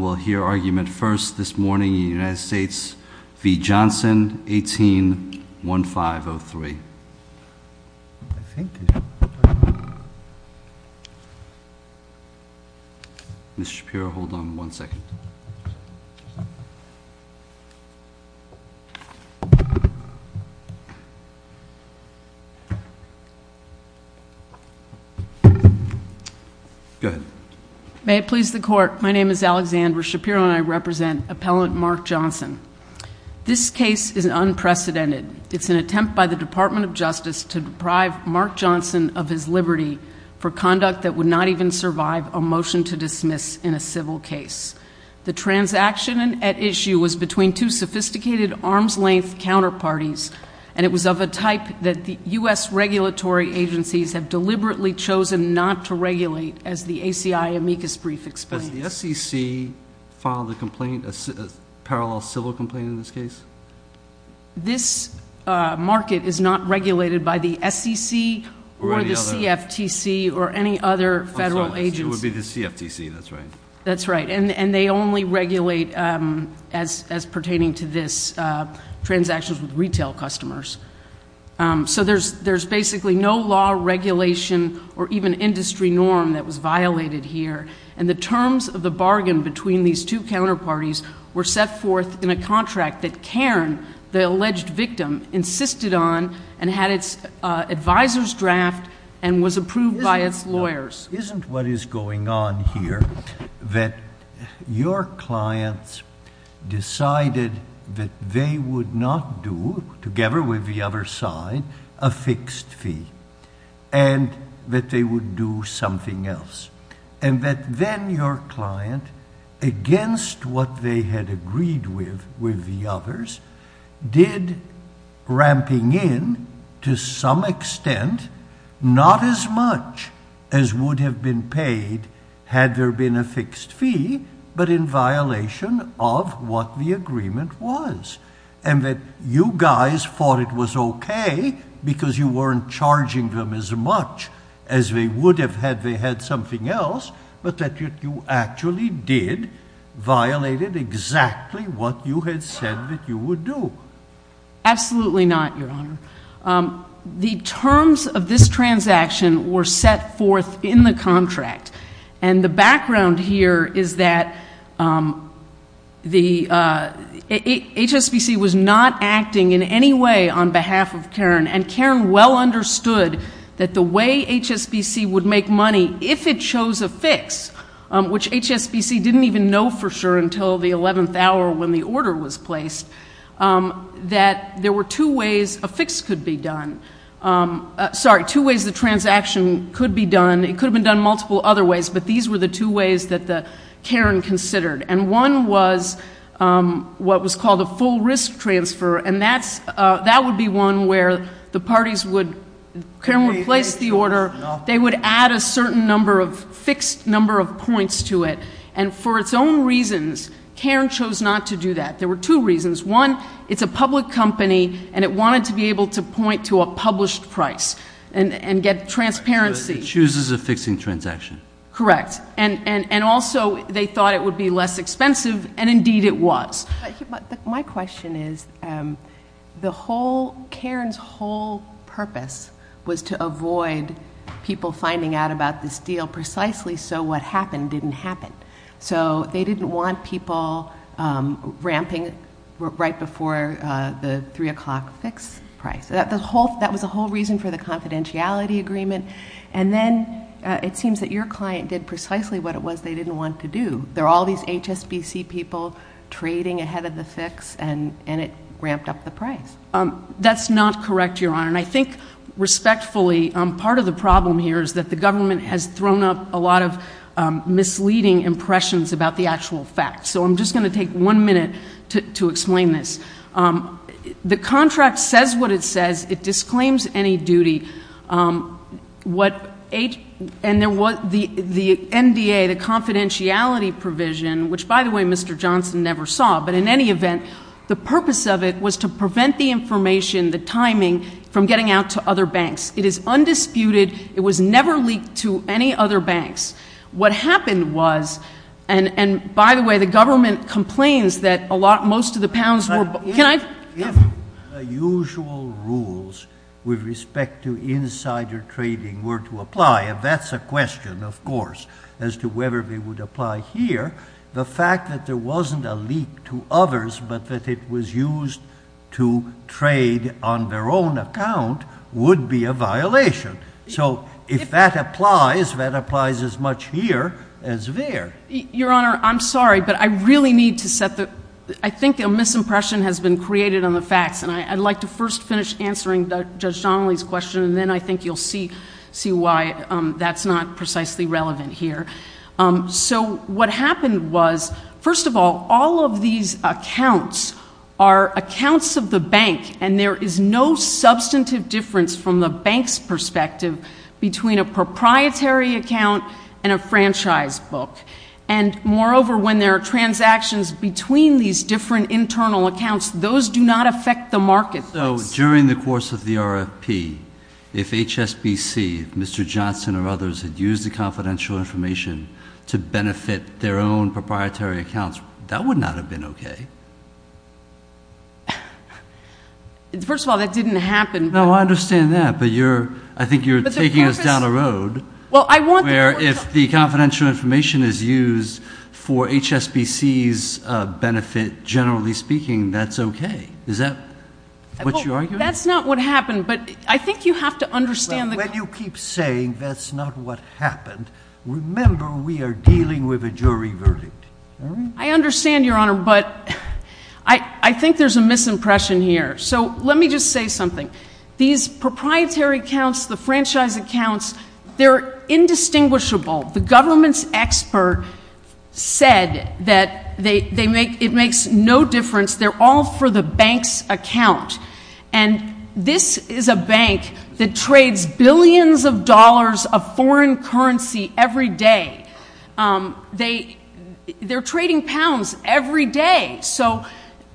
Mr. Shapiro, hold on one second. Go ahead. My name is Alexandra Shapiro, and I represent Appellant Mark Johnson. This case is unprecedented. It's an attempt by the Department of Justice to deprive Mark Johnson of his liberty for conduct that would not even survive a motion to dismiss in a civil case. The transaction at issue was between two sophisticated arms-length counterparties, and it was of a type that the U.S. regulatory agencies have deliberately chosen not to regulate, as the SEC filed the complaint, a parallel civil complaint in this case? This market is not regulated by the SEC or the CFTC or any other federal agency. It would be the CFTC, that's right. That's right. And they only regulate, as pertaining to this, transactions with retail customers. So there's basically no law, regulation, or even industry norm that was violated here. And the terms of the bargain between these two counterparties were set forth in a contract that Cairn, the alleged victim, insisted on and had its advisers draft and was approved by its lawyers. Isn't what is going on here that your clients decided that they would not do, together with the other side, a fixed fee, and that they would do something else? And that then your client, against what they had agreed with the others, did, ramping in, to some extent, not as much as would have been paid had there been a fixed fee, but in violation of what the agreement was. And that you guys thought it was okay because you weren't charging them as much as they would have had they had something else, but that you actually did, violated exactly what you had said that you would do. Absolutely not, Your Honor. The terms of this transaction were set forth in the contract. And the background here is that HSBC was not acting in any way on behalf of Cairn. And Cairn well understood that the way HSBC would make money, if it chose a fix, which HSBC didn't even know for sure until the 11th hour when the order was placed, that there were two ways a fix could be done, sorry, two ways the transaction could be done. It could have been done multiple other ways, but these were the two ways that Cairn considered. And one was what was called a full risk transfer. And that would be one where the parties would, Cairn would place the order, they would add a certain number of, fixed number of points to it. And for its own reasons, Cairn chose not to do that. There were two reasons. One, it's a public company and it wanted to be able to point to a published price and get transparency. So it chooses a fixing transaction. Correct. And also they thought it would be less expensive, and indeed it was. My question is, the whole, Cairn's whole purpose was to avoid people finding out about this deal precisely so what happened didn't happen. So they didn't want people ramping right before the 3 o'clock fix price. So that was the whole reason for the confidentiality agreement. And then it seems that your client did precisely what it was they didn't want to do. There are all these HSBC people trading ahead of the fix and it ramped up the price. That's not correct, Your Honor. And I think, respectfully, part of the problem here is that the government has thrown up a lot of misleading impressions about the actual facts. So I'm just going to take one minute to explain this. The contract says what it says. It disclaims any duty. What the NDA, the confidentiality provision, which, by the way, Mr. Johnson never saw, but in any event, the purpose of it was to prevent the information, the timing from getting out to other banks. It is undisputed. It was never leaked to any other banks. What happened was, and by the way, the government complains that a lot, most of the pounds were If the usual rules with respect to insider trading were to apply, and that's a question, of course, as to whether they would apply here, the fact that there wasn't a leak to others but that it was used to trade on their own account would be a violation. So if that applies, that applies as much here as there. Your Honor, I'm sorry, but I really need to set the, I think a misimpression has been created on the facts and I'd like to first finish answering Judge Donnelly's question and then I think you'll see why that's not precisely relevant here. So what happened was, first of all, all of these accounts are accounts of the bank and there is no substantive difference from the bank's perspective between a proprietary account and a franchise book. And moreover, when there are transactions between these different internal accounts, those do not affect the market. So during the course of the RFP, if HSBC, if Mr. Johnson or others had used the confidential information to benefit their own proprietary accounts, that would not have been okay. First of all, that didn't happen. No, I understand that, but you're, I think you're taking us down a road. Well, I want the court to- Where if the confidential information is used for HSBC's benefit, generally speaking, that's okay. Is that what you're arguing? That's not what happened, but I think you have to understand the- When you keep saying that's not what happened, remember we are dealing with a jury verdict. I understand, Your Honor, but I think there's a misimpression here. So let me just say something. These proprietary accounts, the franchise accounts, they're indistinguishable. The government's expert said that they make, it makes no difference. They're all for the bank's account. And this is a bank that trades billions of dollars of foreign currency every day. They're trading pounds every day. So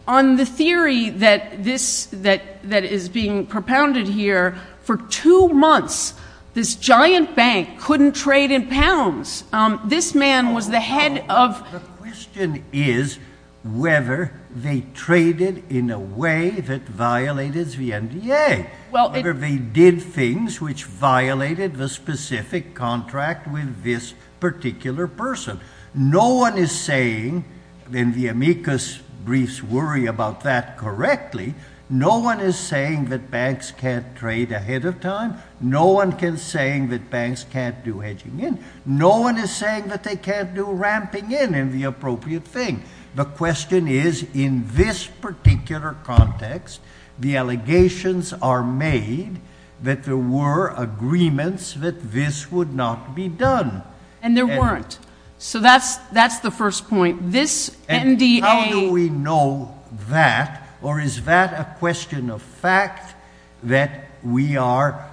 on the theory that is being propounded here, for two months, this giant bank couldn't trade in pounds. This man was the head of- The question is whether they traded in a way that violated the NDA, whether they did things which violated the specific contract with this particular person. No one is saying, and the amicus briefs worry about that correctly, no one is saying that banks can't trade ahead of time. No one is saying that banks can't do hedging in. No one is saying that they can't do ramping in and the appropriate thing. The question is, in this particular context, the allegations are made that there were agreements that this would not be done. And there weren't. So that's the first point. This NDA- And how do we know that? Or is that a question of fact that we are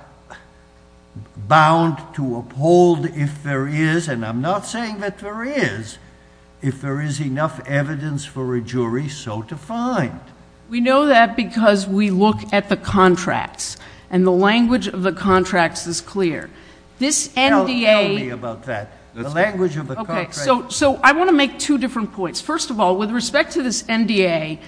bound to uphold if there is, and I'm not saying that there is, if there is enough evidence for a jury, so to find? We know that because we look at the contracts. And the language of the contracts is clear. This NDA- Tell me about that. The language of the contracts- Okay. So I want to make two different points. First of all, with respect to this NDA,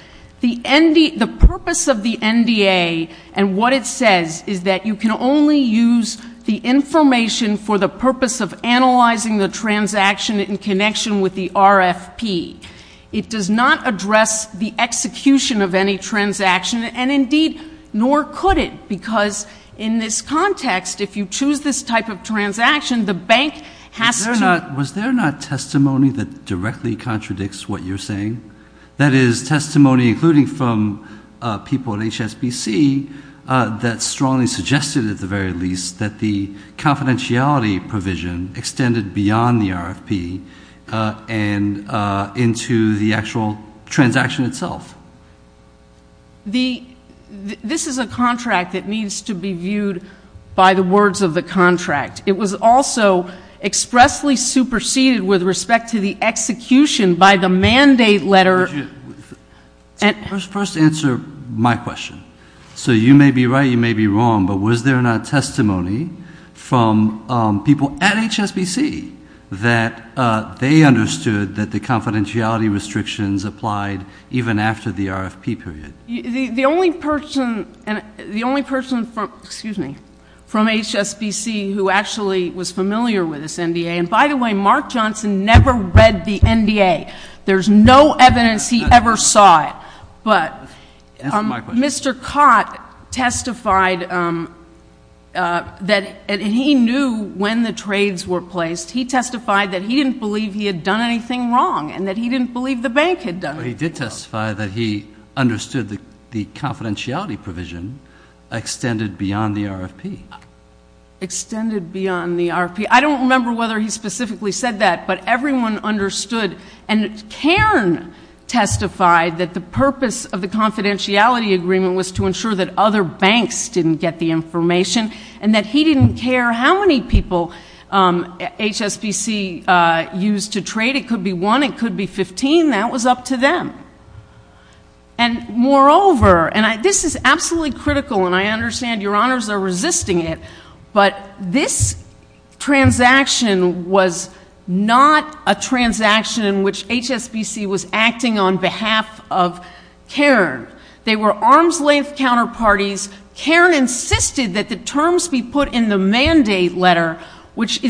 the purpose of the NDA and what it says is that you can only use the information for the purpose of analyzing the transaction in connection with the RFP. It does not address the execution of any transaction, and indeed, nor could it because in this context, if you choose this type of transaction, the bank has to- Was there not testimony that directly contradicts what you're saying? That is, testimony, including from people at HSBC, that strongly suggested, at the very least, that the confidentiality provision extended beyond the RFP and into the actual transaction itself. Now, this is a contract that needs to be viewed by the words of the contract. It was also expressly superseded with respect to the execution by the mandate letter- First answer my question. So you may be right, you may be wrong, but was there not testimony from people at HSBC that they understood that the confidentiality restrictions applied even after the RFP period? The only person from HSBC who actually was familiar with this NDA, and by the way, Mark Johnson never read the NDA. There's no evidence he ever saw it, but Mr. Cott testified that he knew when the trades were placed, he testified that he didn't believe he had done anything wrong and that he didn't believe the bank had done anything wrong. But he did testify that he understood the confidentiality provision extended beyond the RFP. Extended beyond the RFP. I don't remember whether he specifically said that, but everyone understood, and Cairn testified that the purpose of the confidentiality agreement was to ensure that other banks didn't get the information, and that he didn't care how many people HSBC used to trade, it could be one, it could be 15, that was up to them. And moreover, and this is absolutely critical and I understand your honors are resisting it, but this transaction was not a transaction in which HSBC was acting on behalf of Cairn. They were arm's length counterparties. Cairn insisted that the terms be put in the mandate letter, which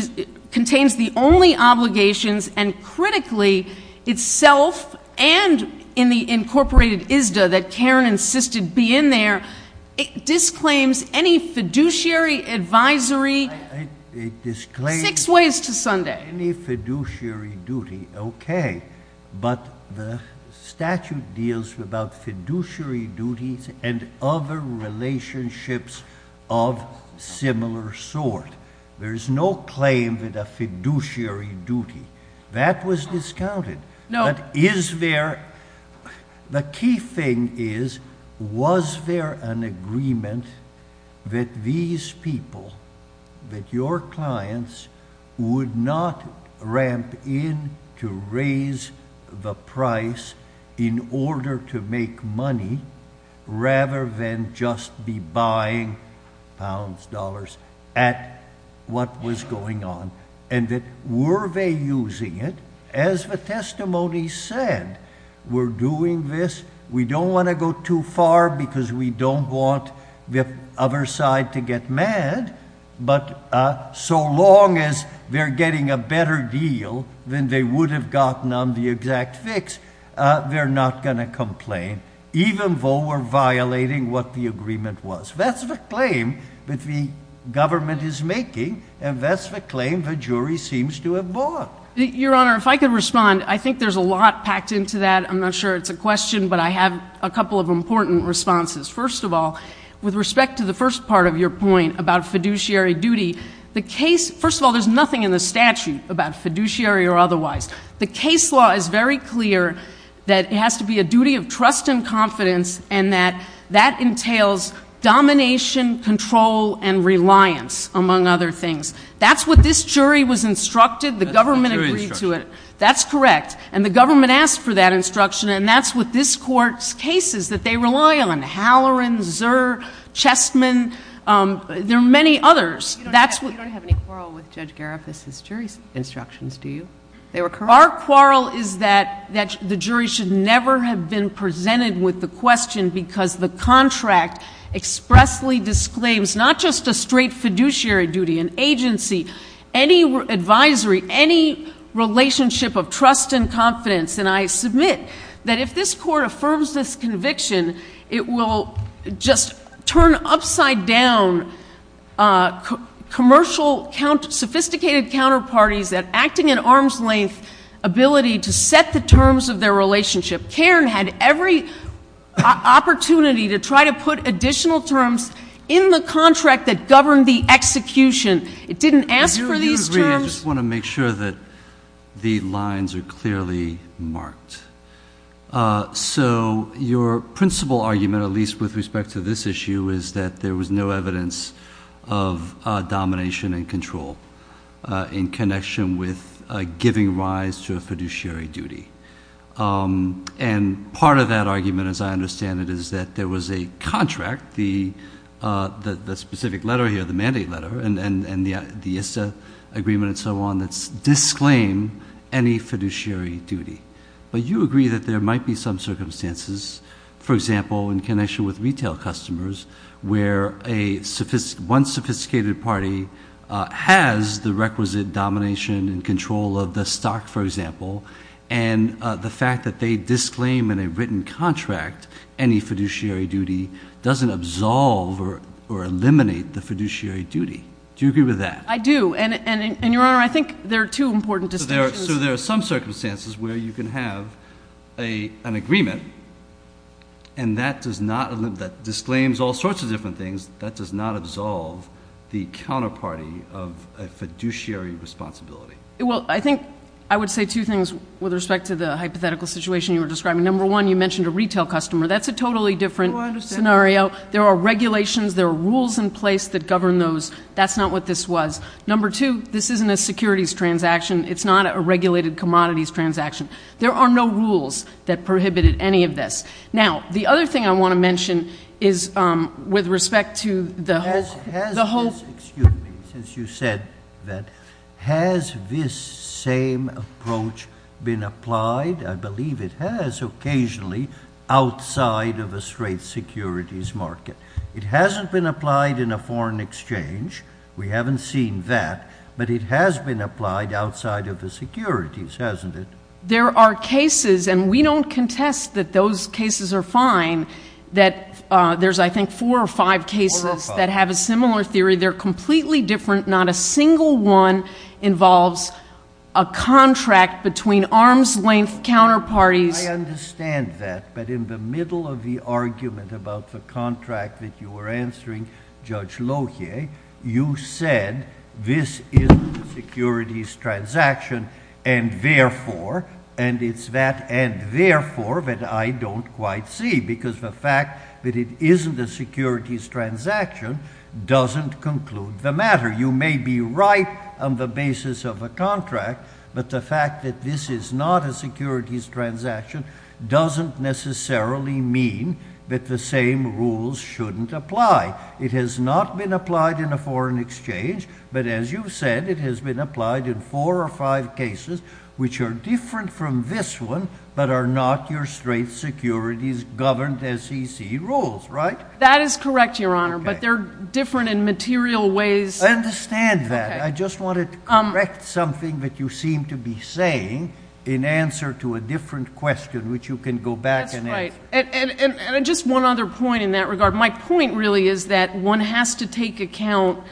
contains the only obligations and critically, itself and in the incorporated ISDA that Cairn insisted be in there, disclaims any fiduciary advisory six ways to Sunday. Any fiduciary duty, okay, but the statute deals about fiduciary duties and other relationships of similar sort. There's no claim that a fiduciary duty, that was discounted. But is there, the key thing is was there an agreement that these people, that your clients would not ramp in to raise the price in order to make money, rather than just be buying pounds, dollars, at what was going on, and that were they using it? As the testimony said, we're doing this, we don't want to go too far because we don't want the other side to get mad, but so long as they're getting a better deal than they would have gotten on the exact fix, they're not going to complain, even though we're violating what the agreement was. That's the claim that the government is making, and that's the claim the jury seems to have bought. Your Honor, if I could respond, I think there's a lot packed into that. I'm not sure it's a question, but I have a couple of important responses. First of all, with respect to the first part of your point about fiduciary duty, the case, first of all, there's nothing in the statute about fiduciary or otherwise. The case law is very clear that it has to be a duty of trust and confidence, and that that entails domination, control, and reliance, among other things. That's what this jury was instructed, the government agreed to it. That's correct. And the government asked for that instruction, and that's what this Court's case is, that they rely on Halloran, Zerr, Chestman, there are many others. You don't have any quarrel with Judge Gariffas' jury's instructions, do you? Our quarrel is that the jury should never have been presented with the question, because the contract expressly disclaims not just a straight fiduciary duty, an agency, any advisory, any relationship of trust and confidence, and I submit that if this Court affirms this conviction, it will just turn upside down commercial, sophisticated counterparties that acting in arm's length ability to set the terms of their relationship. Cairn had every opportunity to try to put additional terms in the contract that governed the execution. It didn't ask for these terms. Do you agree? I just want to make sure that the lines are clearly marked. So, your principal argument, at least with respect to this issue, is that there was no evidence of domination and control in connection with giving rise to a fiduciary duty. And part of that argument, as I understand it, is that there was a contract, the specific letter here, the mandate letter, and the ISSA agreement and so on, that disclaim any fiduciary duty. But you agree that there might be some circumstances, for example, in connection with retail customers, where one sophisticated party has the requisite domination and control of the stock, for example, and the fact that they disclaim in a written contract any fiduciary duty doesn't absolve or eliminate the fiduciary duty. Do you agree with that? I do. And, Your Honor, I think there are two important distinctions. So there are some circumstances where you can have an agreement and that does not, that disclaims all sorts of different things, that does not absolve the counterparty of a fiduciary responsibility. Well, I think I would say two things with respect to the hypothetical situation you were describing. Number one, you mentioned a retail customer. That's a totally different scenario. There are regulations, there are rules in place that govern those. That's not what this was. Number two, this isn't a securities transaction. It's not a regulated commodities transaction. There are no rules that prohibited any of this. Now, the other thing I want to mention is with respect to the whole… Has this, excuse me, since you said that, has this same approach been applied? I believe it has occasionally, outside of a straight securities market. It hasn't been applied in a foreign exchange. We haven't seen that, but it has been applied outside of the securities, hasn't it? There are cases, and we don't contest that those cases are fine, that there's I think four or five cases that have a similar theory. They're completely different. Not a single one involves a contract between arm's length counterparties. I understand that, but in the middle of the argument about the contract that you were You said this isn't a securities transaction, and therefore, and it's that and therefore that I don't quite see, because the fact that it isn't a securities transaction doesn't conclude the matter. You may be right on the basis of a contract, but the fact that this is not a securities transaction doesn't necessarily mean that the same rules shouldn't apply. It has not been applied in a foreign exchange, but as you said, it has been applied in four or five cases, which are different from this one, but are not your straight securities governed SEC rules, right? That is correct, Your Honor, but they're different in material ways. I understand that. I just wanted to correct something that you seem to be saying in answer to a different question, which you can go back and answer. That's right. Just one other point in that regard. My point really is that one has to take account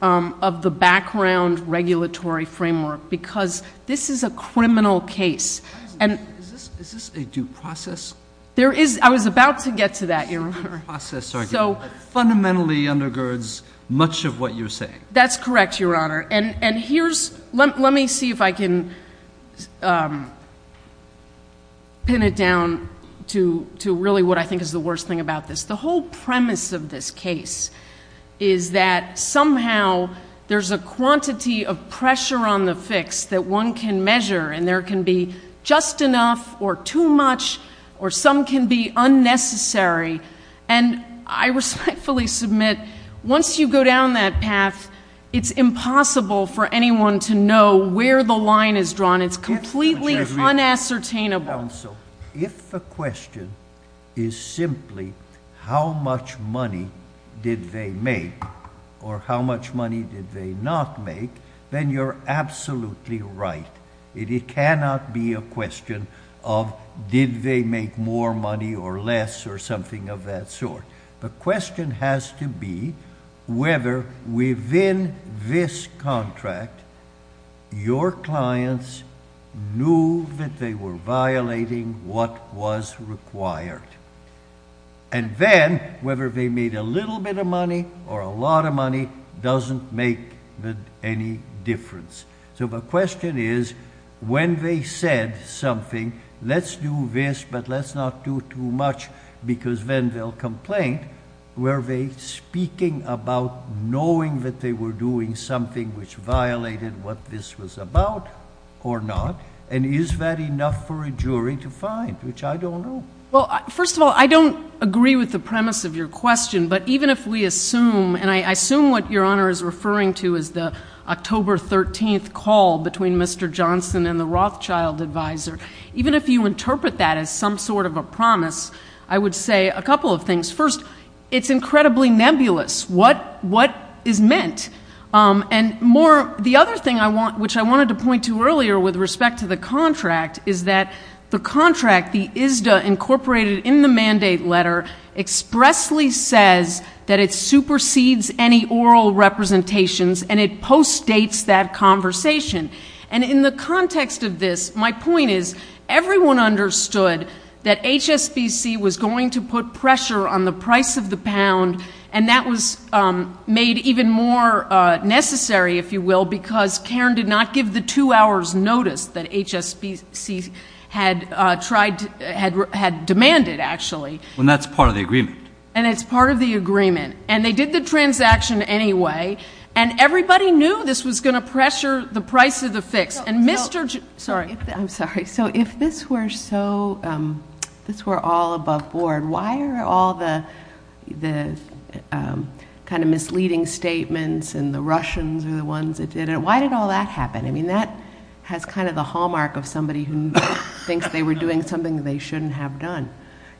of the background regulatory framework, because this is a criminal case. Is this a due process argument? I was about to get to that, Your Honor. It's a due process argument, but it fundamentally undergirds much of what you're saying. That's correct, Your Honor, and let me see if I can pin it down to really what I think is the worst thing about this. The whole premise of this case is that somehow there's a quantity of pressure on the fix that one can measure, and there can be just enough or too much, or some can be unnecessary, and I respectfully submit, once you go down that path, it's impossible for anyone to know where the line is drawn. It's completely unassertainable. If the question is simply how much money did they make or how much money did they not make, then you're absolutely right. It cannot be a question of did they make more money or less or something of that sort. The question has to be whether within this contract, your clients knew that they were violating what was required, and then whether they made a little bit of money or a lot of money doesn't make any difference. The question is, when they said something, let's do this, but let's not do too much, because then they'll complain, were they speaking about knowing that they were doing something which violated what this was about or not, and is that enough for a jury to find, which I don't know. Well, first of all, I don't agree with the premise of your question, but even if we assume, and I assume what your Honor is referring to is the October 13th call between Mr. Johnson and the Rothschild advisor, even if you interpret that as some sort of a promise, I would say a couple of things. First, it's incredibly nebulous what is meant. And more, the other thing which I wanted to point to earlier with respect to the contract is that the contract, the ISDA incorporated in the mandate letter expressly says that it supersedes any oral representations and it post-dates that conversation. And in the context of this, my point is, everyone understood that HSBC was going to put pressure on the price of the pound, and that was made even more necessary, if you will, because Cairn did not give the two hours' notice that HSBC had tried to, had demanded, actually. And that's part of the agreement. And it's part of the agreement. And they did the transaction anyway, and everybody knew this was going to pressure the price of the fix. And Mr. Johnson... Sorry. I'm sorry. So if this were so, if this were all above board, why are all the kind of misleading statements and the Russians are the ones that did it, why did all that happen? I mean, that has kind of the hallmark of somebody who thinks they were doing something they shouldn't have done.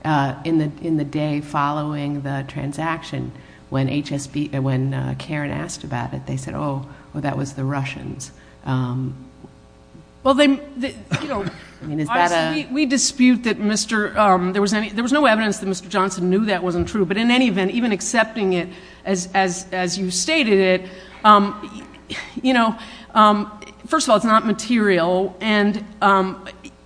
I mean, that's part of the transaction. When HSBC, when Cairn asked about it, they said, oh, well, that was the Russians. Well, they, you know, we dispute that Mr., there was no evidence that Mr. Johnson knew that wasn't true. But in any event, even accepting it as you stated it, you know, first of all, it's not material. And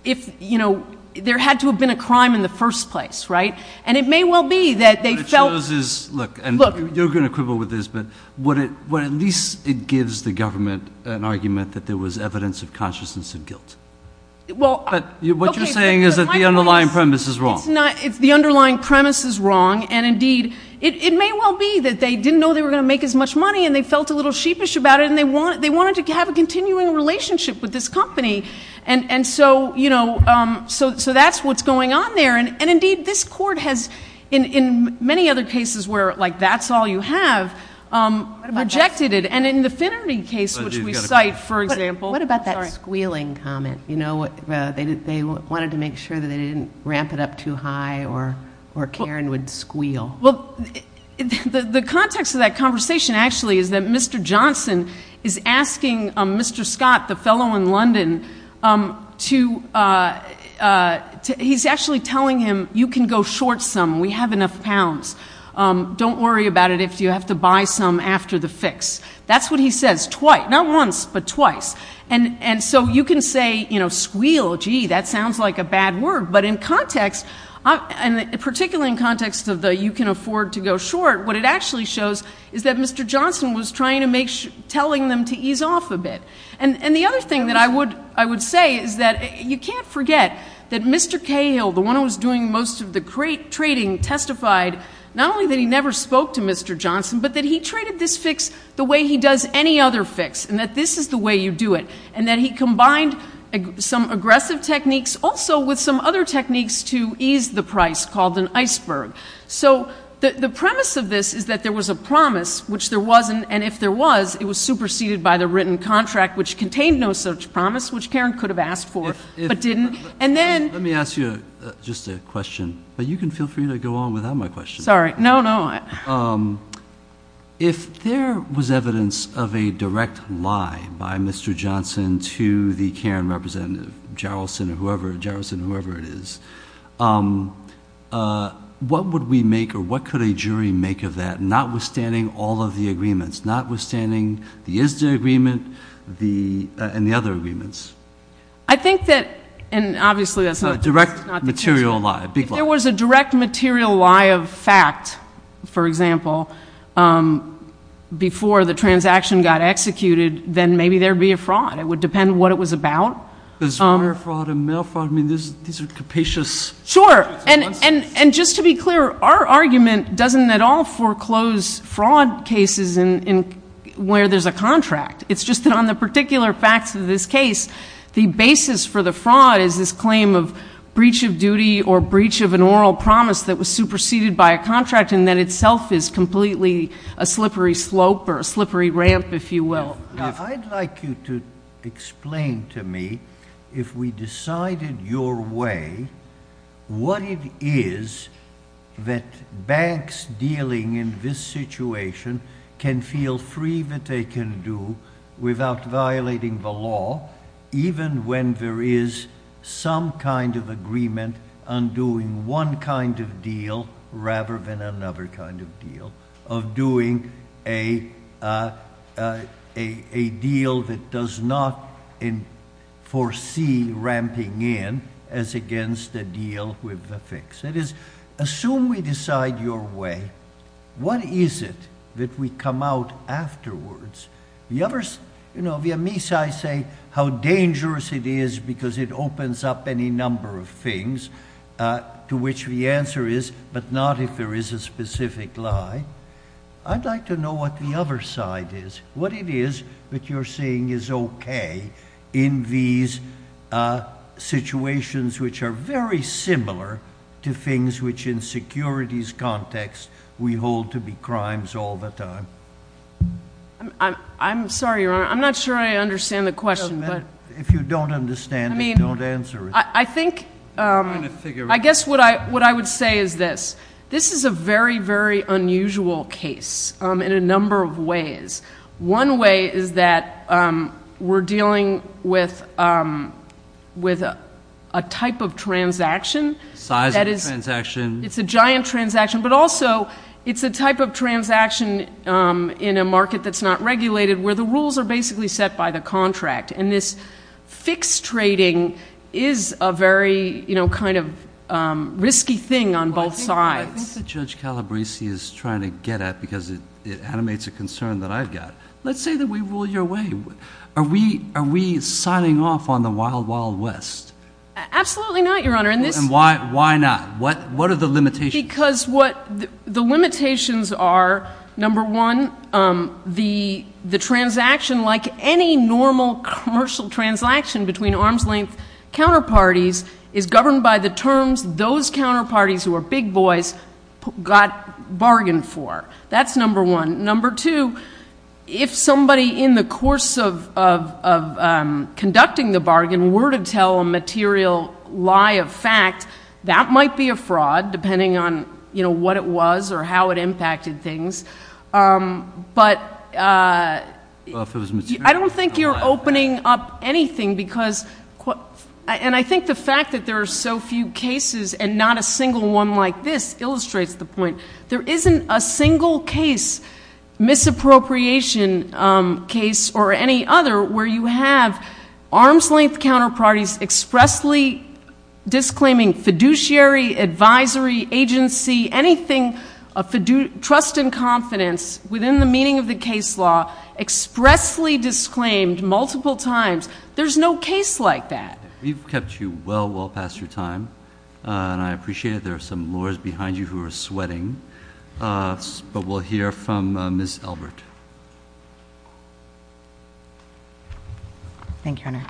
if, you know, there had to have been a crime in the first place, right? And it may well be that they felt... What it shows is, look, and you're going to quibble with this, but what it, what at least it gives the government an argument that there was evidence of consciousness of guilt. Well... But what you're saying is that the underlying premise is wrong. It's not, it's the underlying premise is wrong. And indeed, it may well be that they didn't know they were going to make as much money and they felt a little sheepish about it and they want, they wanted to have a continuing relationship with this company. And so, you know, so, so that's what's going on there. And, and indeed, this court has in, in many other cases where like, that's all you have rejected it. And in the Finnerty case, which we cite, for example. What about that squealing comment? You know, they wanted to make sure that they didn't ramp it up too high or, or Karen would squeal. Well, the context of that conversation actually is that Mr. Johnson is asking Mr. Scott, the short sum. We have enough pounds. Don't worry about it if you have to buy some after the fix. That's what he says. Twice. Not once, but twice. And, and so you can say, you know, squeal, gee, that sounds like a bad word. But in context, and particularly in context of the you can afford to go short, what it actually shows is that Mr. Johnson was trying to make sure, telling them to ease off a bit. And the other thing that I would, I would say is that you can't forget that Mr. Cahill, the one who was doing most of the great trading, testified not only that he never spoke to Mr. Johnson, but that he traded this fix the way he does any other fix and that this is the way you do it. And then he combined some aggressive techniques also with some other techniques to ease the price called an iceberg. So the premise of this is that there was a promise, which there wasn't. And if there was, it was superseded by the written contract, which contained no such promise, which Karen could have asked for, but didn't. And then let me ask you just a question, but you can feel free to go on without my question. Sorry. No, no. If there was evidence of a direct lie by Mr. Johnson to the Karen representative, Jarrelson or whoever Jarrelson, whoever it is, what would we make or what could a jury make of that? Notwithstanding all of the agreements, notwithstanding the ISDA agreement, the, and the other agreements. I think that, and obviously that's not a direct material lie. If there was a direct material lie of fact, for example, um, before the transaction got executed, then maybe there'd be a fraud. It would depend what it was about. There's wire fraud and mail fraud. I mean, there's, these are capacious. Sure. And, and, and just to be clear, our argument doesn't at all foreclose fraud cases in, in where there's a contract. It's just that on the particular facts of this case, the basis for the fraud is this claim of breach of duty or breach of an oral promise that was superseded by a contract. And that itself is completely a slippery slope or a slippery ramp, if you will. Now, I'd like you to explain to me if we decided your way, what it is that banks dealing in this situation can feel free that they can do without violating the law, even when there is some kind of agreement on doing one kind of deal rather than another kind of deal of doing a, uh, uh, a, a deal that does not in foresee ramping in as against the deal with the fix. That is, assume we decide your way. What is it that we come out afterwards? The others, you know, via me, so I say how dangerous it is because it opens up any number of things, uh, to which the answer is, but not if there is a specific lie. I'd like to know what the other side is, what it is that you're seeing is okay in these, uh, situations, which are very similar to things, which in securities context, we hold to be crimes all the time. I'm sorry, Your Honor. I'm not sure I understand the question, but if you don't understand, I mean, I think, um, I guess what I, what I would say is this, this is a very, very unusual case, um, in a number of ways. One way is that, um, we're dealing with, um, with a, a type of transaction. Size of the transaction. It's a giant transaction, but also it's a type of transaction, um, in a market that's not regulated where the rules are basically set by the contract. And this fixed trading is a very, you know, kind of, um, risky thing on both sides. I think that Judge Calabresi is trying to get at, because it, it animates a concern that I've got. Let's say that we rule your way. Are we, are we signing off on the wild, wild West? Absolutely not, Your Honor. And this, why, why not? What, what are the limitations? Because what the limitations are, number one, um, the, the transaction, like any normal commercial transaction between arm's length counterparties, is governed by the terms those counterparties who are big boys got bargained for. That's number one. Number two, if somebody in the course of, of, of, um, conducting the bargain were to tell a material lie of fact, that might be a fraud depending on, you know, what it was or how it impacted things. Um, but, uh, I don't think you're opening up anything because, and I think the fact that there are so few cases and not a single one like this illustrates the point. There isn't a single case, misappropriation, um, case or any other where you have arm's length counterparties expressly disclaiming fiduciary advisory agency, anything of fidu, trust and confidence within the meaning of the case law, expressly disclaimed multiple times. There's no case like that. We've kept you well, well past your time. Uh, and I appreciate it. There are some lawyers behind you who are sweating, uh, but we'll hear from Ms. Elbert. Thank you, Your Honor.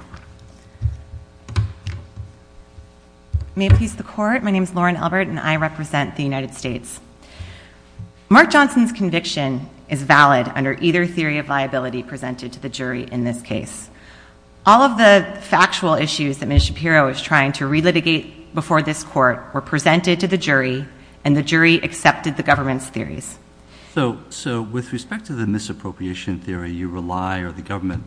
May it please the court. My name is Lauren Elbert and I represent the United States. Mark Johnson's conviction is valid under either theory of viability presented to the jury in this case. All of the factual issues that Ms. Shapiro is trying to relitigate before this court were presented to the jury and the jury accepted the government's theories. So, so with respect to the misappropriation theory, you rely or the government,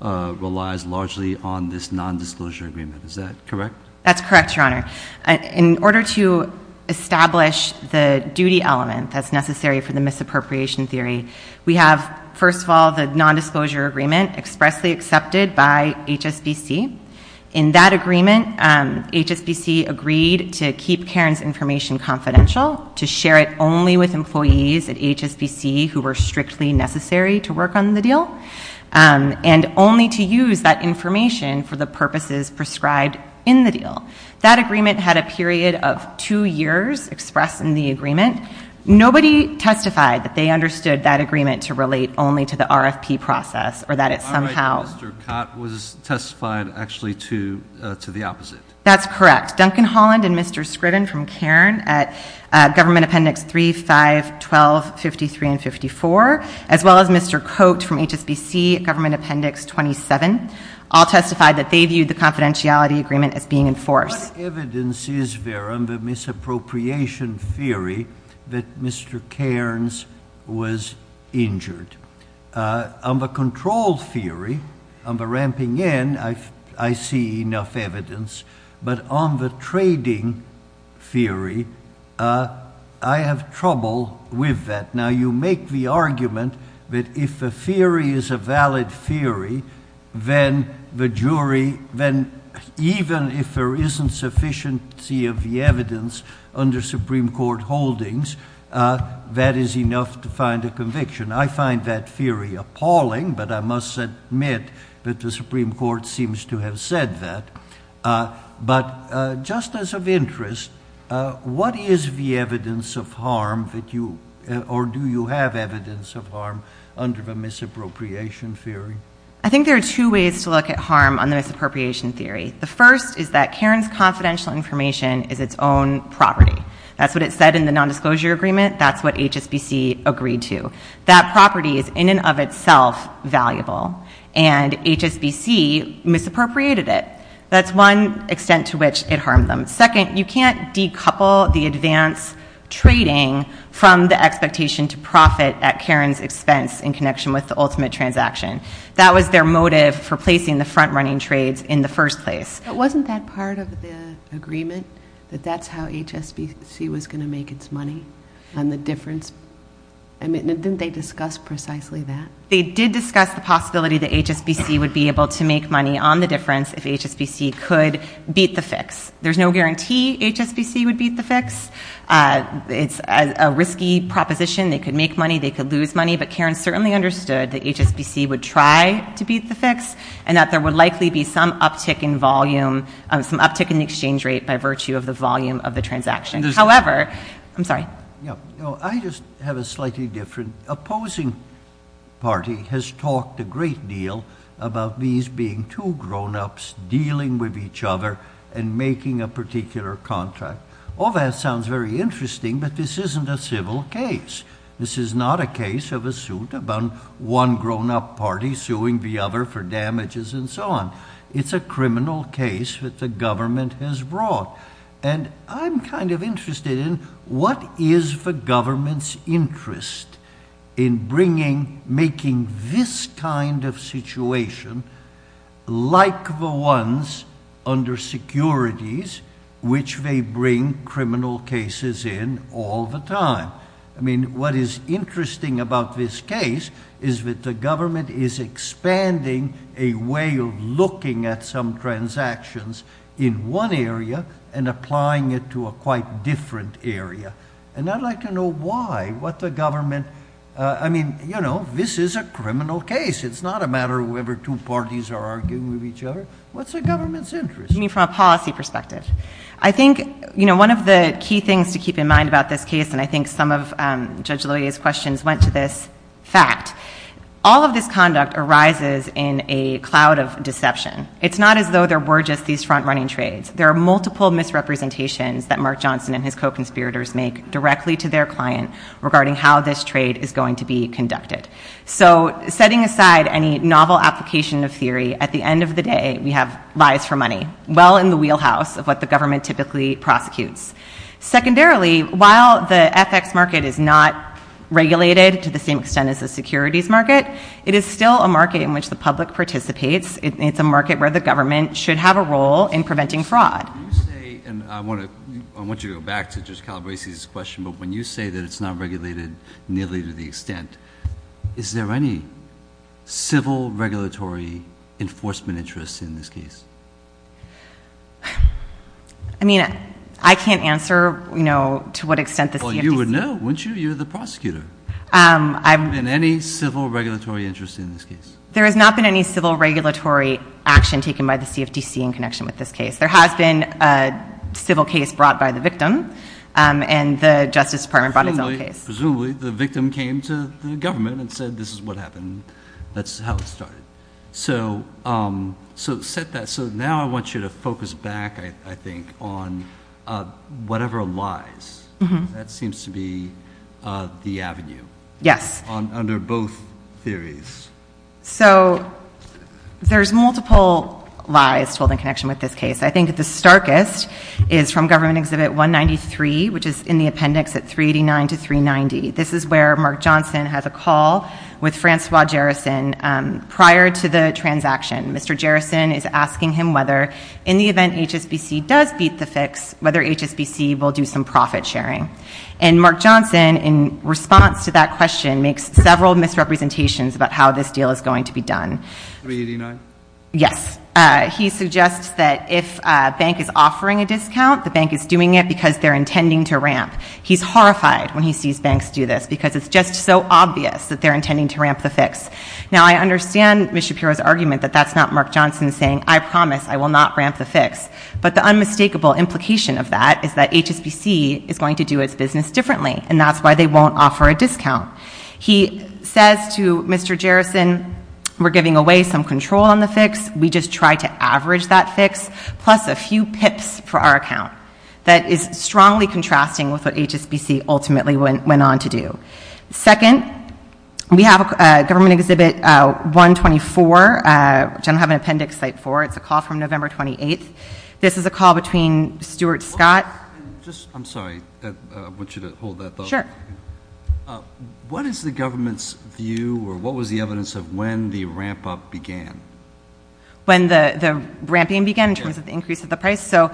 uh, relies largely on this nondisclosure agreement. Is that correct? That's correct. Your Honor, in order to establish the duty element that's necessary for the misappropriation theory, we have, first of all, the nondisclosure agreement expressly accepted by HSBC. In that agreement, um, HSBC agreed to keep Karen's information confidential, to share it only with employees at HSBC who were strictly necessary to work on the deal. Um, and only to use that information for the purposes prescribed in the deal. That agreement had a period of two years expressed in the agreement. Nobody testified that they understood that agreement to relate only to the RFP process or that it somehow was testified actually to, uh, to the opposite. That's correct. Duncan Holland and Mr. Scriven from Karen at, uh, government appendix three, five, 12, 53 and 54, as well as Mr. Coat from HSBC government appendix 27, all testified that they viewed the confidentiality agreement as being enforced. Evidence is there on the misappropriation theory that Mr. Cairns was injured, uh, on the control theory on the ramping in. I, I see enough evidence, but on the trading theory, uh, I have trouble with that. Now you make the argument that if a theory is a valid theory, then the jury, then even if there isn't sufficiency of the evidence under Supreme court holdings, uh, that is enough to find a conviction. I find that theory appalling, but I must admit that the Supreme court seems to have said that, uh, but, uh, just as of interest, uh, what is the evidence of harm that you, or do you have evidence of harm under the misappropriation theory? I think there are two ways to look at harm on the misappropriation theory. The first is that Karen's confidential information is its own property. That's what it said in the nondisclosure agreement. That's what HSBC agreed to. That property is in and of itself valuable and HSBC misappropriated it. That's one extent to which it harmed them. Second, you can't decouple the advance trading from the expectation to profit at Karen's expense in connection with the ultimate transaction. That was their motive for placing the front running trades in the first place. But wasn't that part of the agreement that that's how HSBC was going to make its money on the difference? I mean, didn't they discuss precisely that? They did discuss the possibility that HSBC would be able to make money on the difference if HSBC could beat the fix. There's no guarantee HSBC would beat the fix. Uh, it's a risky proposition. They could make money, they could lose money, but Karen certainly understood that HSBC would try to beat the fix and that there would likely be some uptick in volume, some uptick in the exchange rate by virtue of the volume of the transaction. However, I'm sorry. Yeah, no, I just have a slightly different opposing party has talked a great deal about these being two grownups dealing with each other and making a particular contract. All that sounds very interesting, but this isn't a civil case. This is not a case of a suit about one grownup party suing the other for damages and so on. It's a criminal case that the government has brought, and I'm kind of interested in what is the government's interest in bringing, making this kind of situation like the ones under securities, which they bring criminal cases in all the time. I mean, what is interesting about this case is that the government is expanding a way of looking at some transactions in one area and applying it to a quite different area. And I'd like to know why, what the government, I mean, you know, this is a criminal case. It's not a matter of whoever two parties are arguing with each other. What's the government's interest? I mean, from a policy perspective, I think, you know, one of the key things to keep in mind about this case, and I think some of Judge Loya's questions went to this fact, all of this conduct arises in a cloud of deception. It's not as though there were just these front running trades. There are multiple misrepresentations that Mark Johnson and his co-conspirators make directly to their client regarding how this trade is going to be conducted. So setting aside any novel application of theory, at the end of the day, we have lies for money, well in the wheelhouse of what the government typically prosecutes. Secondarily, while the FX market is not regulated to the same extent as the securities market, it is still a market in which the public participates. It's a market where the government should have a role in preventing fraud. And I want to, I want you to go back to Judge Calabresi's question, but when you say that it's not regulated nearly to the extent, is there any civil regulatory enforcement interests in this case? I mean, I can't answer, you know, to what extent the CFTC. Well, you would know, wouldn't you? You're the prosecutor. I'm. In any civil regulatory interest in this case. There has not been any civil regulatory action taken by the CFTC in connection with this case. There has been a civil case brought by the victim and the Justice Department brought its own case. Presumably, the victim came to the government and said, this is what happened. That's how it started. So, um, so set that. So now I want you to focus back, I think, on, uh, whatever lies that seems to be, uh, the avenue. Yes. On under both theories. So there's multiple lies told in connection with this case. I think the starkest is from government exhibit 193, which is in the appendix at 389 to 390. This is where Mark Johnson has a call with Francois Jerison. Um, prior to the transaction, Mr. Jerison is asking him whether in the event HSBC does beat the fix, whether HSBC will do some profit sharing. And Mark Johnson, in response to that question, makes several misrepresentations about how this deal is going to be done. Yes. Uh, he suggests that if a bank is offering a discount, the bank is doing it because they're intending to ramp. He's horrified when he sees banks do this because it's just so obvious that they're intending to ramp the fix. Now I understand Ms. Shapiro's argument that that's not Mark Johnson saying, I promise I will not ramp the fix, but the unmistakable implication of that is that HSBC is going to do its business differently and that's why they won't offer a discount. He says to Mr. Jerison, we're giving away some control on the fix. We just try to average that fix. Plus a few pips for our account that is strongly contrasting with what HSBC ultimately went, went on to do. Second, we have a government exhibit, uh, 124, uh, which I don't have an appendix site for, it's a call from November 28th. This is a call between Stuart Scott, just, I'm sorry, I want you to hold that. Sure. Uh, what is the government's view or what was the evidence of when the ramp up began? When the, the ramping began in terms of the increase of the price. So,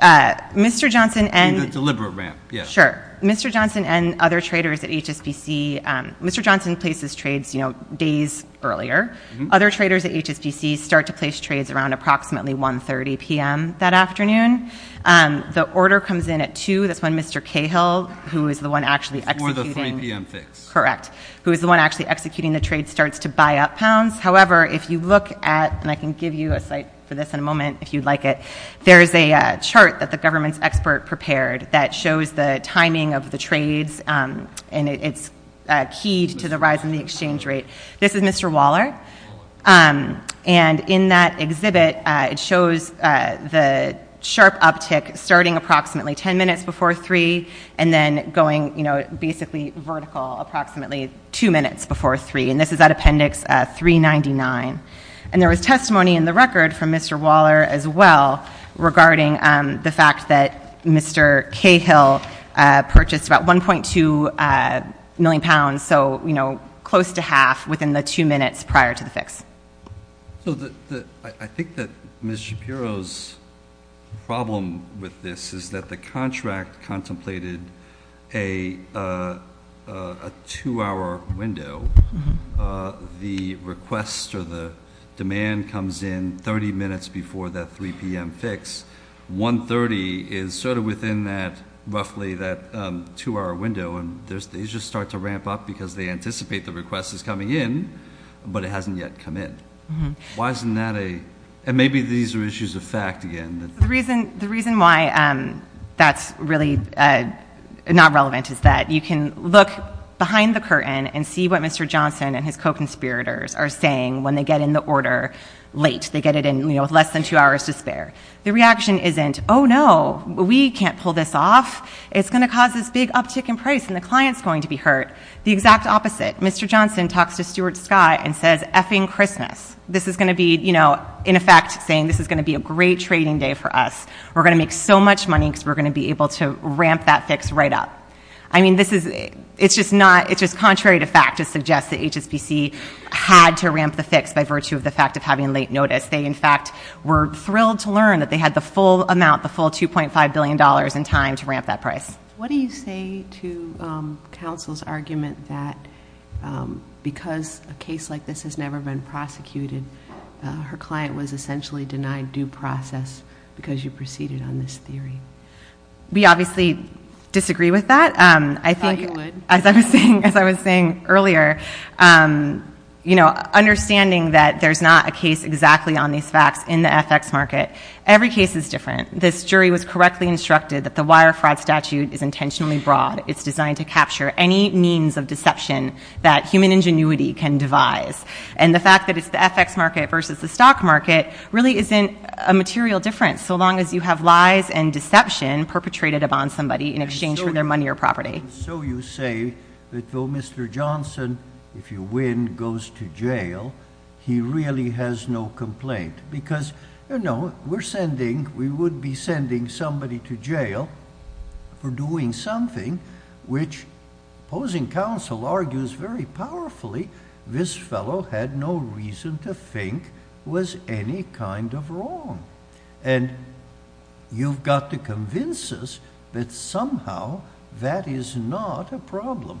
uh, Mr. Johnson and deliberate ramp. Yeah, sure. Mr. Johnson and other traders at HSBC. Um, Mr. Johnson places trades, you know, days earlier, other traders at HSBC start to place trades around approximately 1 30 PM that afternoon. Um, the order comes in at two. That's when Mr. Cahill, who is the one actually, correct. Who is the one actually executing the trade starts to buy up pounds. However, if you look at, and I can give you a site for this in a moment, if you'd like it, there's a chart that the government's expert prepared that shows the timing of the trades, um, and it's, uh, keyed to the rise in the exchange rate. This is Mr. Waller. Um, and in that exhibit, uh, it shows, uh, the sharp uptick starting approximately 10 minutes before three, and then going, you know, basically vertical, approximately two minutes before three. And this is that appendix, uh, three 99. And there was testimony in the record from Mr. Waller as well regarding, um, the fact that Mr. Cahill, uh, purchased about 1.2, uh, million pounds. So, you know, close to half within the two minutes prior to the fix. So the, the, I think that Ms. Shapiro's problem with this is that the contract contemplated a, uh, uh, a two hour window, uh, the request or the demand comes in 30 minutes before that 3 PM fix, 1.30 is sort of within that, roughly that, um, two hour window. And there's, they just start to ramp up because they anticipate the request is coming in, but it hasn't yet come in. Why isn't that a, and maybe these are issues of fact again. The reason, the reason why, um, that's really, uh, not relevant is that you can look behind the curtain and see what Mr. Johnson and his co-conspirators are saying. When they get in the order late, they get it in, you know, with less than two hours to spare. The reaction isn't, oh no, we can't pull this off. It's going to cause this big uptick in price and the client's going to be hurt. The exact opposite. Mr. Johnson talks to Stuart Scott and says effing Christmas. This is going to be, you know, in effect saying this is going to be a great trading day for us. We're going to make so much money because we're going to be able to ramp that fix right up. I mean, this is, it's just not, it's just contrary to fact to suggest that HSBC had to ramp the fix by virtue of the fact of having late notice. They in fact were thrilled to learn that they had the full amount, the full $2.5 billion in time to ramp that price. What do you say to, um, counsel's argument that, um, because a case like this has never been prosecuted, uh, her client was essentially denied due process because you proceeded on this theory. We obviously disagree with that. Um, I think as I was saying, as I was saying earlier, um, you know, understanding that there's not a case exactly on these facts in the FX market. Every case is different. This jury was correctly instructed that the wire fraud statute is intentionally broad. It's designed to capture any means of deception that human ingenuity can devise. And the fact that it's the FX market versus the stock market really isn't a material difference. So long as you have lies and deception perpetrated upon somebody in exchange for their money or property. So you say that though Mr. Johnson, if you win, goes to jail, he really has no complaint because you know, we're sending, we would be sending somebody to jail for doing something, which opposing counsel argues very powerfully, this fellow had no reason to think was any kind of wrong and you've got to convince us that somehow that is not a problem.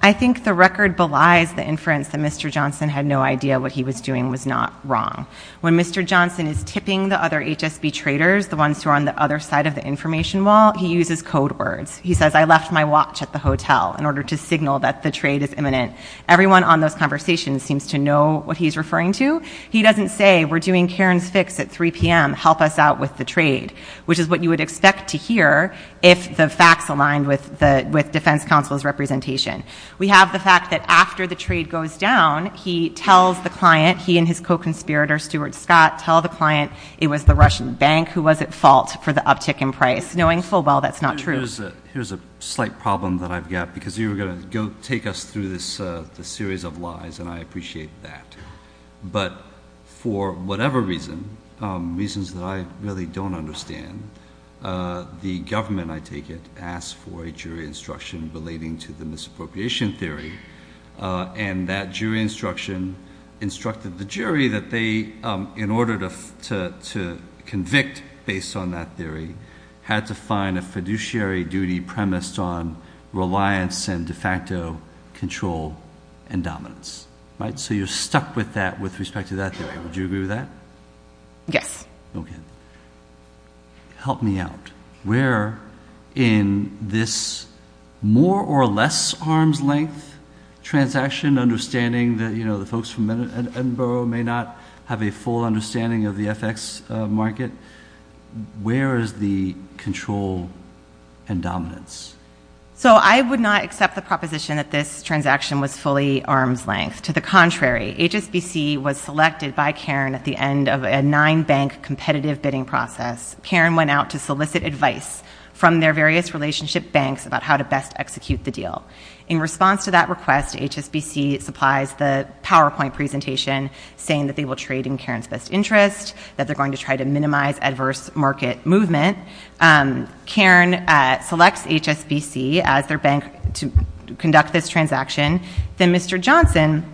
I think the record belies the inference that Mr. Johnson had no idea what he was doing was not wrong. When Mr. Johnson is tipping the other HSB traders, the ones who are on the other side of the information wall, he uses code words. He says, I left my watch at the hotel in order to signal that the trade is imminent. Everyone on those conversations seems to know what he's referring to. He doesn't say we're doing Karen's fix at 3 PM, help us out with the trade, which is what you would expect to hear if the facts aligned with the, with defense counsel's representation. We have the fact that after the trade goes down, he tells the client, he and his co-conspirator, Stuart Scott, tell the client it was the Russian bank who was at fault for the uptick in price, knowing full well, that's not true. Here's a slight problem that I've got because you were going to go take us through this, uh, the series of lies and I appreciate that, but for whatever reason, um, reasons that I really don't understand, uh, the government, I take it asked for a jury instruction relating to the misappropriation theory, uh, and that jury instruction instructed the jury that they, um, in order to, to, to convict based on that theory had to control and dominance, right? So you're stuck with that with respect to that theory. Would you agree with that? Yes. Okay. Help me out where in this more or less arms length transaction, understanding that, you know, the folks from Edinburgh may not have a full understanding of the FX market. Where is the control and dominance? So I would not accept the proposition that this transaction was fully arms length. To the contrary, HSBC was selected by Karen at the end of a nine bank competitive bidding process. Karen went out to solicit advice from their various relationship banks about how to best execute the deal. In response to that request, HSBC supplies the PowerPoint presentation saying that they will trade in Karen's best interest, that they're going to try to minimize adverse market movement. Um, Karen, uh, selects HSBC as their bank to conduct this transaction. Then Mr. Johnson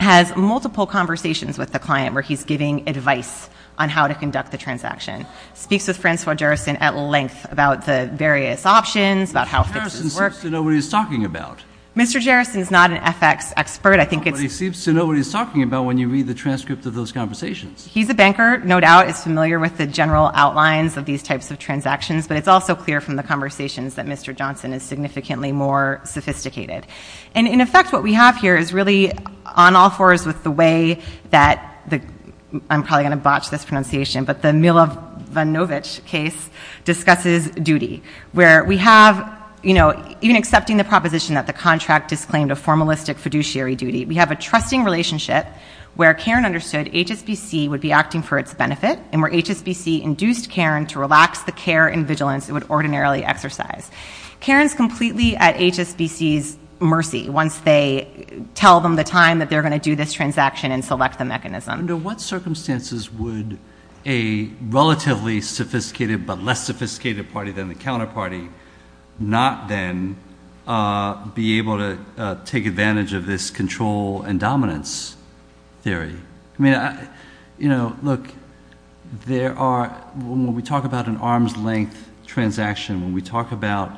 has multiple conversations with the client where he's giving advice on how to conduct the transaction. Speaks with Francois Jarrison at length about the various options, about how it works. Mr. Jarrison is not an FX expert. I think he seems to know what he's talking about when you read the transcript of those conversations. He's a banker. No doubt. It's familiar with the general outlines of these types of transactions, but it's also clear from the conversations that Mr. Johnson is significantly more sophisticated. And in effect, what we have here is really on all fours with the way that the, I'm probably going to botch this pronunciation, but the Milovanovic case discusses duty, where we have, you know, even accepting the proposition that the contract is claimed a formalistic fiduciary duty. We have a trusting relationship where Karen understood HSBC would be acting for its benefit. And where HSBC induced Karen to relax the care and vigilance it would ordinarily exercise. Karen's completely at HSBC's mercy. Once they tell them the time that they're going to do this transaction and select the mechanism. Under what circumstances would a relatively sophisticated, but less sophisticated party than the counterparty not then, uh, be able to, uh, take advantage of this control and dominance theory? I mean, I, you know, look, there are, when we talk about an arm's length transaction, when we talk about,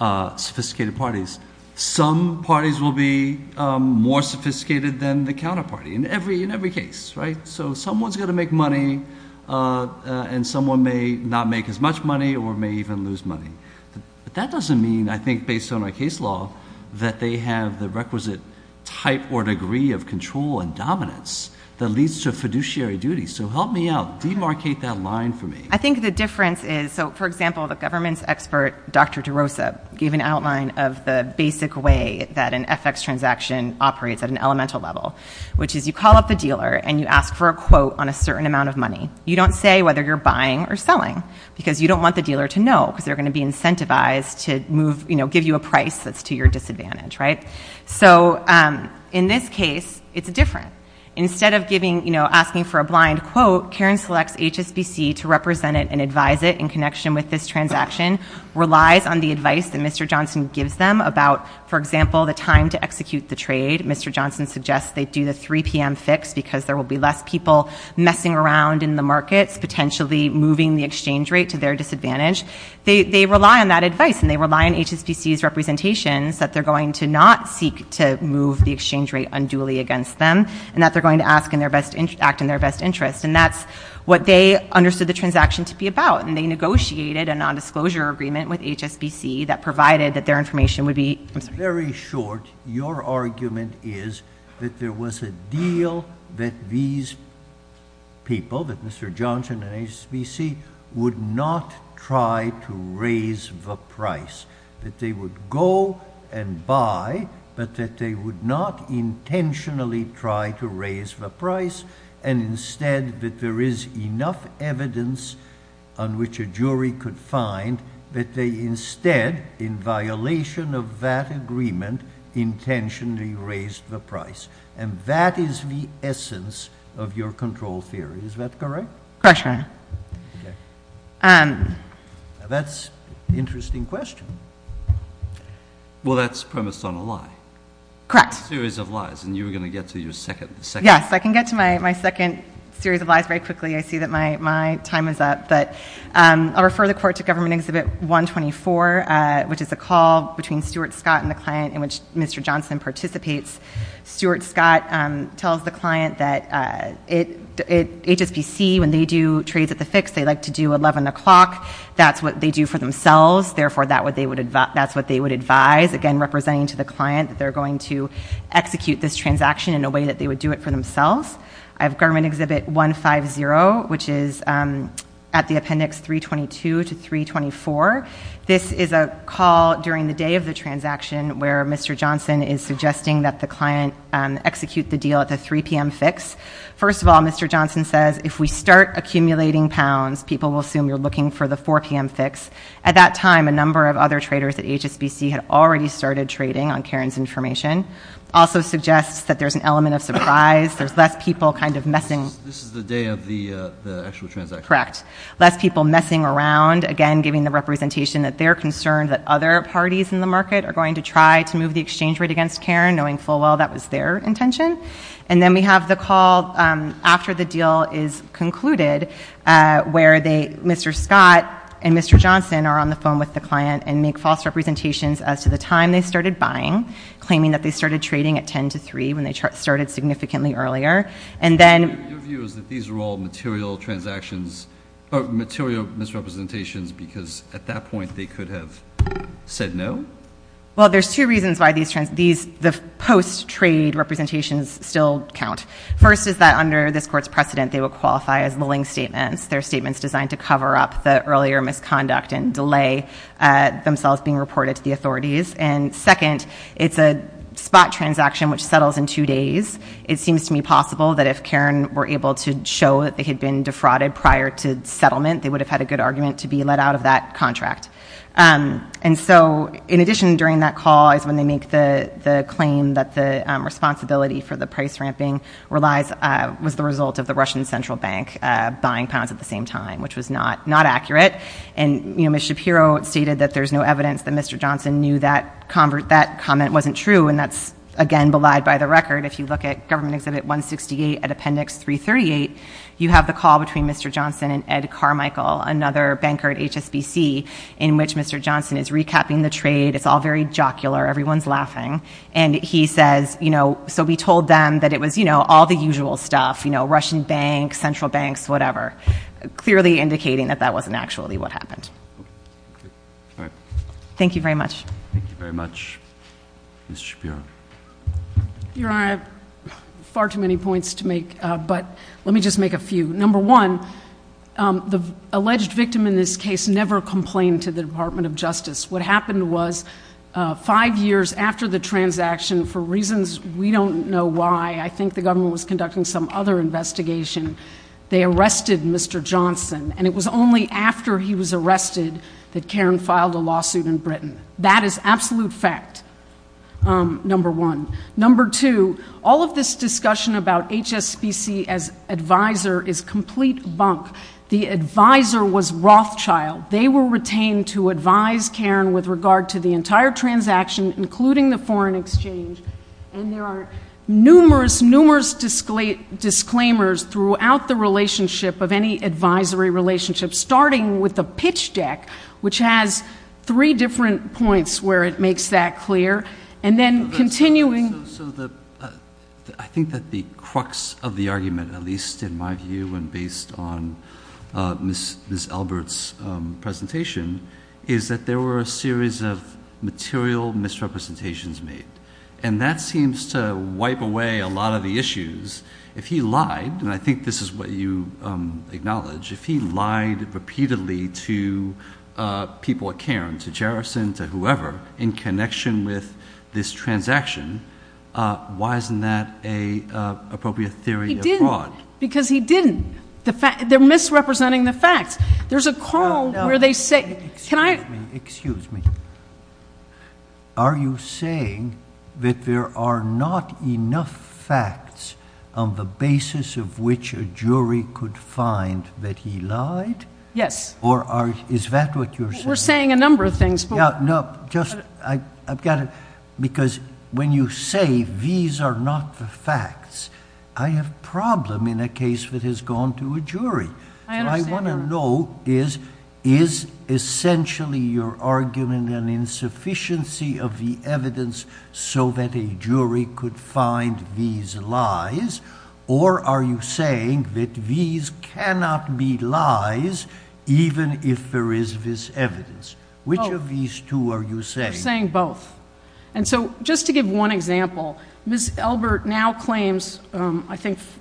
uh, sophisticated parties, some parties will be, um, more sophisticated than the counterparty in every, in every case, right? So someone's going to make money, uh, uh, and someone may not make as much money or may even lose money. But that doesn't mean, I think, based on our case law that they have the that leads to fiduciary duty. So help me out, demarcate that line for me. I think the difference is, so for example, the government's expert, Dr. DeRosa, gave an outline of the basic way that an FX transaction operates at an elemental level, which is you call up the dealer and you ask for a quote on a certain amount of money. You don't say whether you're buying or selling because you don't want the dealer to know, because they're going to be incentivized to move, you know, give you a price that's to your disadvantage. Right? So, um, in this case, it's different. Instead of giving, you know, asking for a blind quote, Karen selects HSBC to represent it and advise it in connection with this transaction, relies on the advice that Mr. Johnson gives them about, for example, the time to execute the trade. Mr. Johnson suggests they do the 3 p.m. fix because there will be less people messing around in the markets, potentially moving the exchange rate to their disadvantage. They, they rely on that advice and they rely on HSBC's representations that they're going to not seek to move the exchange rate unduly against them. And that they're going to ask in their best interest, act in their best interest. And that's what they understood the transaction to be about. And they negotiated a nondisclosure agreement with HSBC that provided that their information would be very short. Your argument is that there was a deal that these people, that Mr. Johnson and HSBC would not try to raise the price that they would go and buy, but that they would not intentionally try to raise the price. And instead that there is enough evidence on which a jury could find that they instead, in violation of that agreement, intentionally raised the price. And that is the essence of your control theory. Is that correct? Correct, Your Honor. Okay. Um, that's interesting question. Well, that's premised on a lie. Correct. Series of lies. And you were going to get to your second, second. Yes, I can get to my, my second series of lies very quickly. I see that my, my time is up, but, um, I'll refer the court to government exhibit one 24, uh, which is a call between Stuart Scott and the client in which Mr. Johnson participates. Stuart Scott, um, tells the client that, uh, it, it, HSBC, when they do trades at the fix, they like to do 11 o'clock. That's what they do for themselves. Therefore, that would, they would advise, that's what they would advise. Again, representing to the client that they're going to execute this transaction in a way that they would do it for themselves. I have government exhibit one five zero, which is, um, at the appendix three 22 to three 24, this is a call during the day of the transaction where Mr. Johnson is suggesting that the client, um, execute the deal at the 3 PM fix. First of all, Mr. Johnson says, if we start accumulating pounds, people will assume you're looking for the 4 PM fix. At that time, a number of other traders at HSBC had already started trading on Karen's information. Also suggests that there's an element of surprise. There's less people kind of messing. This is the day of the, uh, the actual transaction. Correct. Less people messing around, again, giving the representation that they're concerned that other parties in the market are going to try to move the exchange rate against Karen knowing full well that was their intention. And then we have the call, um, after the deal is concluded, uh, where they, Mr. Scott and Mr. Johnson are on the phone with the client and make false representations as to the time they started buying, claiming that they started trading at 10 to three when they started significantly earlier. And then these are all material transactions, material misrepresentations, because at that point they could have said no. Well, there's two reasons why these trends, these, the post trade representations still count. First is that under this court's precedent, they will qualify as their statements designed to cover up the earlier misconduct and delay, uh, themselves being reported to the authorities. And second, it's a spot transaction, which settles in two days. It seems to me possible that if Karen were able to show that they had been defrauded prior to settlement, they would have had a good argument to be let out of that contract. Um, and so in addition, during that call is when they make the claim that the, um, responsibility for the price ramping relies, uh, was the result of the Russian central bank, uh, buying pounds at the same time, which was not, not accurate. And, you know, Ms. Shapiro stated that there's no evidence that Mr. Johnson knew that convert, that comment wasn't true. And that's again, belied by the record. If you look at government exhibit 168 at appendix 338, you have the call between Mr. Johnson and Ed Carmichael, another banker at HSBC, in which Mr. Johnson is recapping the trade. It's all very jocular. Everyone's laughing. And he says, you know, so we told them that it was, you know, all the usual stuff, you know, Russian banks, central banks, whatever, clearly indicating that that wasn't actually what happened. Thank you very much. Thank you very much. Ms. Shapiro. Your honor, I have far too many points to make, but let me just make a few. Number one, um, the alleged victim in this case never complained to the department of justice. What happened was, uh, five years after the transaction, for reasons we don't know why, I think the government was conducting some other investigation. They arrested Mr. Johnson and it was only after he was arrested that Karen filed a lawsuit in Britain. That is absolute fact. Um, number one, number two, all of this discussion about HSBC as advisor is complete bunk. The advisor was Rothschild. They were retained to advise Karen with regard to the entire transaction, including the foreign exchange. And there are numerous, numerous disclaimers throughout the relationship of any advisory relationship, starting with the pitch deck, which has three different points where it makes that clear. And then continuing. So the, uh, I think that the crux of the argument, at least in my view, and based on, uh, Ms. Ms. Albert's, um, presentation is that there were a series of material misrepresentations made. And that seems to wipe away a lot of the issues if he lied. And I think this is what you, um, acknowledge if he lied repeatedly to, uh, people at Karen to Jerison, to whoever in connection with this transaction, uh, why isn't that a, uh, appropriate theory? Because he didn't the fact they're misrepresenting the facts. There's a call where they say, can I, excuse me? Are you saying that there are not enough facts on the basis of which a jury could find that he lied? Yes. Or are, is that what you're saying? We're saying a number of things. Yeah. No, just, I, I've got to, because when you say these are not the facts, I have problem in a case that has gone to a jury. I want to know is, is essentially your argument and insufficiency of the evidence so that a jury could find these lies? Or are you saying that these cannot be lies, even if there is this evidence, which of these two are you saying? And so just to give one example, Ms.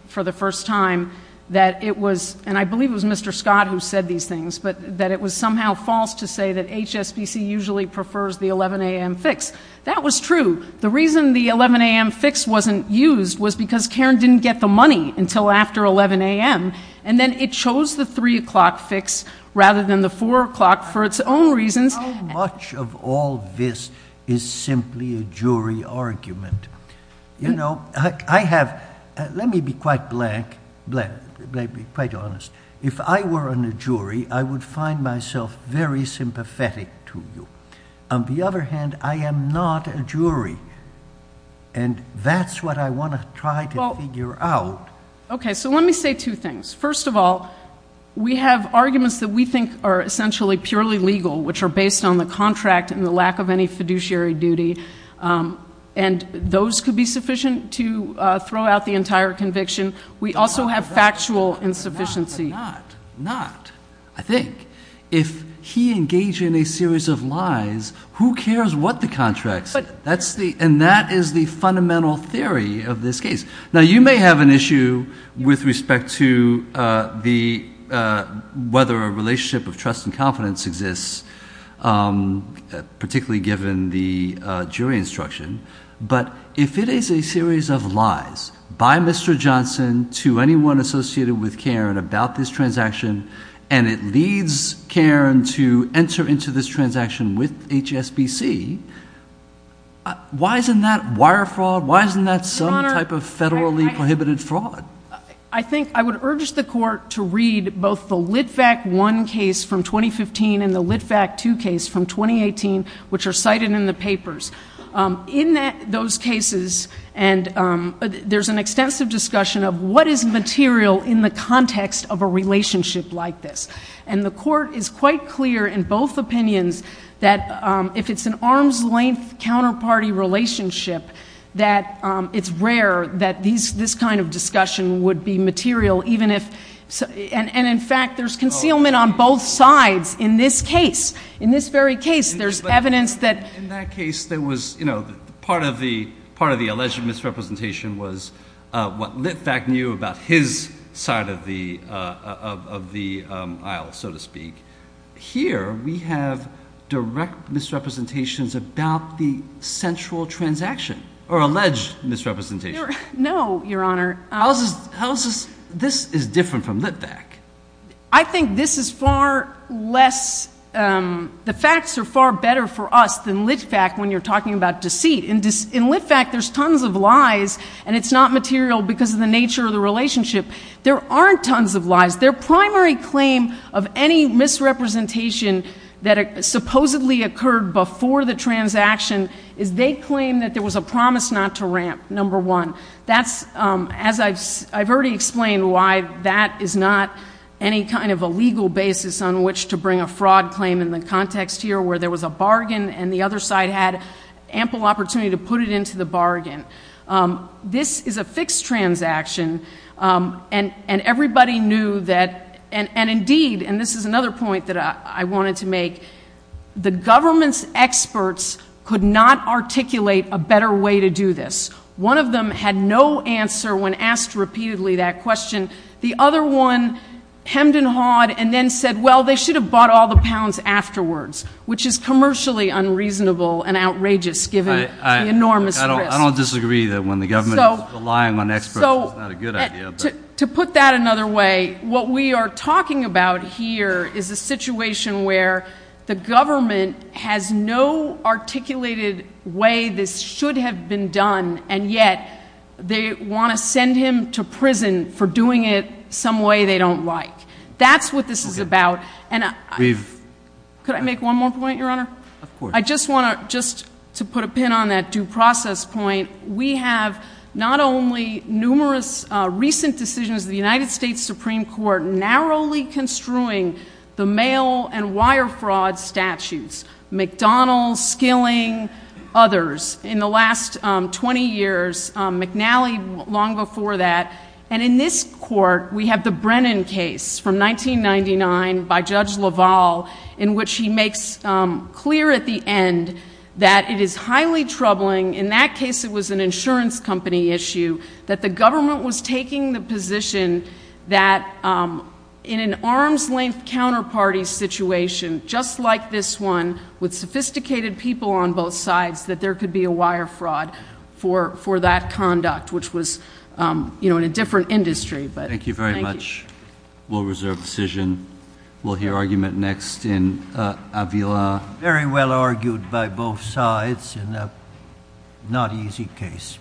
For the first time that it was, and I believe it was Mr. Scott who said these things, but that it was somehow false to say that HSBC usually prefers the 11 a.m. fix. That was true. The reason the 11 a.m. fix wasn't used was because Karen didn't get the money until after 11 a.m. And then it chose the three o'clock fix rather than the four o'clock for its own reasons. How much of all this is simply a jury argument? You know, I have, let me be quite blank, quite honest. If I were on a jury, I would find myself very sympathetic to you. On the other hand, I am not a jury and that's what I want to try to figure out. Okay. So let me say two things. First of all, we have arguments that we think are essentially purely legal, which are based on the contract and the lack of any fiduciary duty. And those could be sufficient to throw out the entire conviction. We also have factual insufficiency. Not, I think if he engaged in a series of lies, who cares what the contracts, that's the, and that is the fundamental theory of this case. Now you may have an issue with respect to the, whether a relationship of trust and confidence exists, um, particularly given the, uh, jury instruction. But if it is a series of lies by Mr. Johnson to anyone associated with Karen about this transaction, and it leads Karen to enter into this transaction with HSBC, why isn't that wire fraud? Why isn't that some type of federally prohibited fraud? I think I would urge the court to read both the LitVac I case from 2015 and the LitVac II case from 2018, which are cited in the papers. Um, in that those cases, and, um, there's an extensive discussion of what is material in the context of a relationship like this. And the court is quite clear in both opinions that, um, if it's an arms length counterparty relationship, that, um, it's rare that these, this kind of discussion would be material, even if, and, and in fact, there's concealment on both sides in this case, in this very case, there's evidence that, in that case, there was, you know, part of the, part of the alleged misrepresentation was, uh, what LitVac knew about his side of the, uh, of, of the, um, aisle, so to speak. Here we have direct misrepresentations about the central transaction or alleged misrepresentation. No, Your Honor. How's this, how's this, this is different from LitVac. I think this is far less, um, the facts are far better for us than LitVac when you're talking about deceit. In LitVac, there's tons of lies and it's not material because of the nature of the relationship. There aren't tons of lies. Their primary claim of any misrepresentation that supposedly occurred before the transaction is they claim that there was a promise not to ramp, number one. That's, um, as I've, I've already explained why that is not any kind of a legal basis on which to bring a fraud claim in the context here where there was a bargain and the other side had ample opportunity to put it into the bargain. Um, this is a fixed transaction. Um, and, and everybody knew that, and, and indeed, and this is another point that I wanted to make, the government's experts could not articulate a better way to do this. One of them had no answer when asked repeatedly that question. The other one hemmed and hawed and then said, well, they should have bought all the pounds afterwards, which is commercially unreasonable and outrageous given the enormous risk. I don't disagree that when the government is relying on experts, it's not a good idea. To put that another way, what we are talking about here is a situation where the government has no articulated way this should have been done. And yet they want to send him to prison for doing it some way they don't like. That's what this is about. And could I make one more point? Your Honor, I just want to, just to put a pin on that due process point. We have not only numerous recent decisions, the United States Supreme Court narrowly construing the mail and wire fraud statutes, McDonald's, killing others in the last 20 years, McNally long before that. And in this court, we have the Brennan case from 1999 by Judge LaValle, in which he makes clear at the end that it is highly troubling. In that case, it was an insurance company issue that the government was taking the position that in an arm's length counterparty situation, just like this one with sophisticated people on both sides, that there could be a wire fraud for, for that conduct, which was, you know, in a different industry. But thank you very much. We'll reserve decision. We'll hear argument next in Avila. Very well argued by both sides in a not easy case.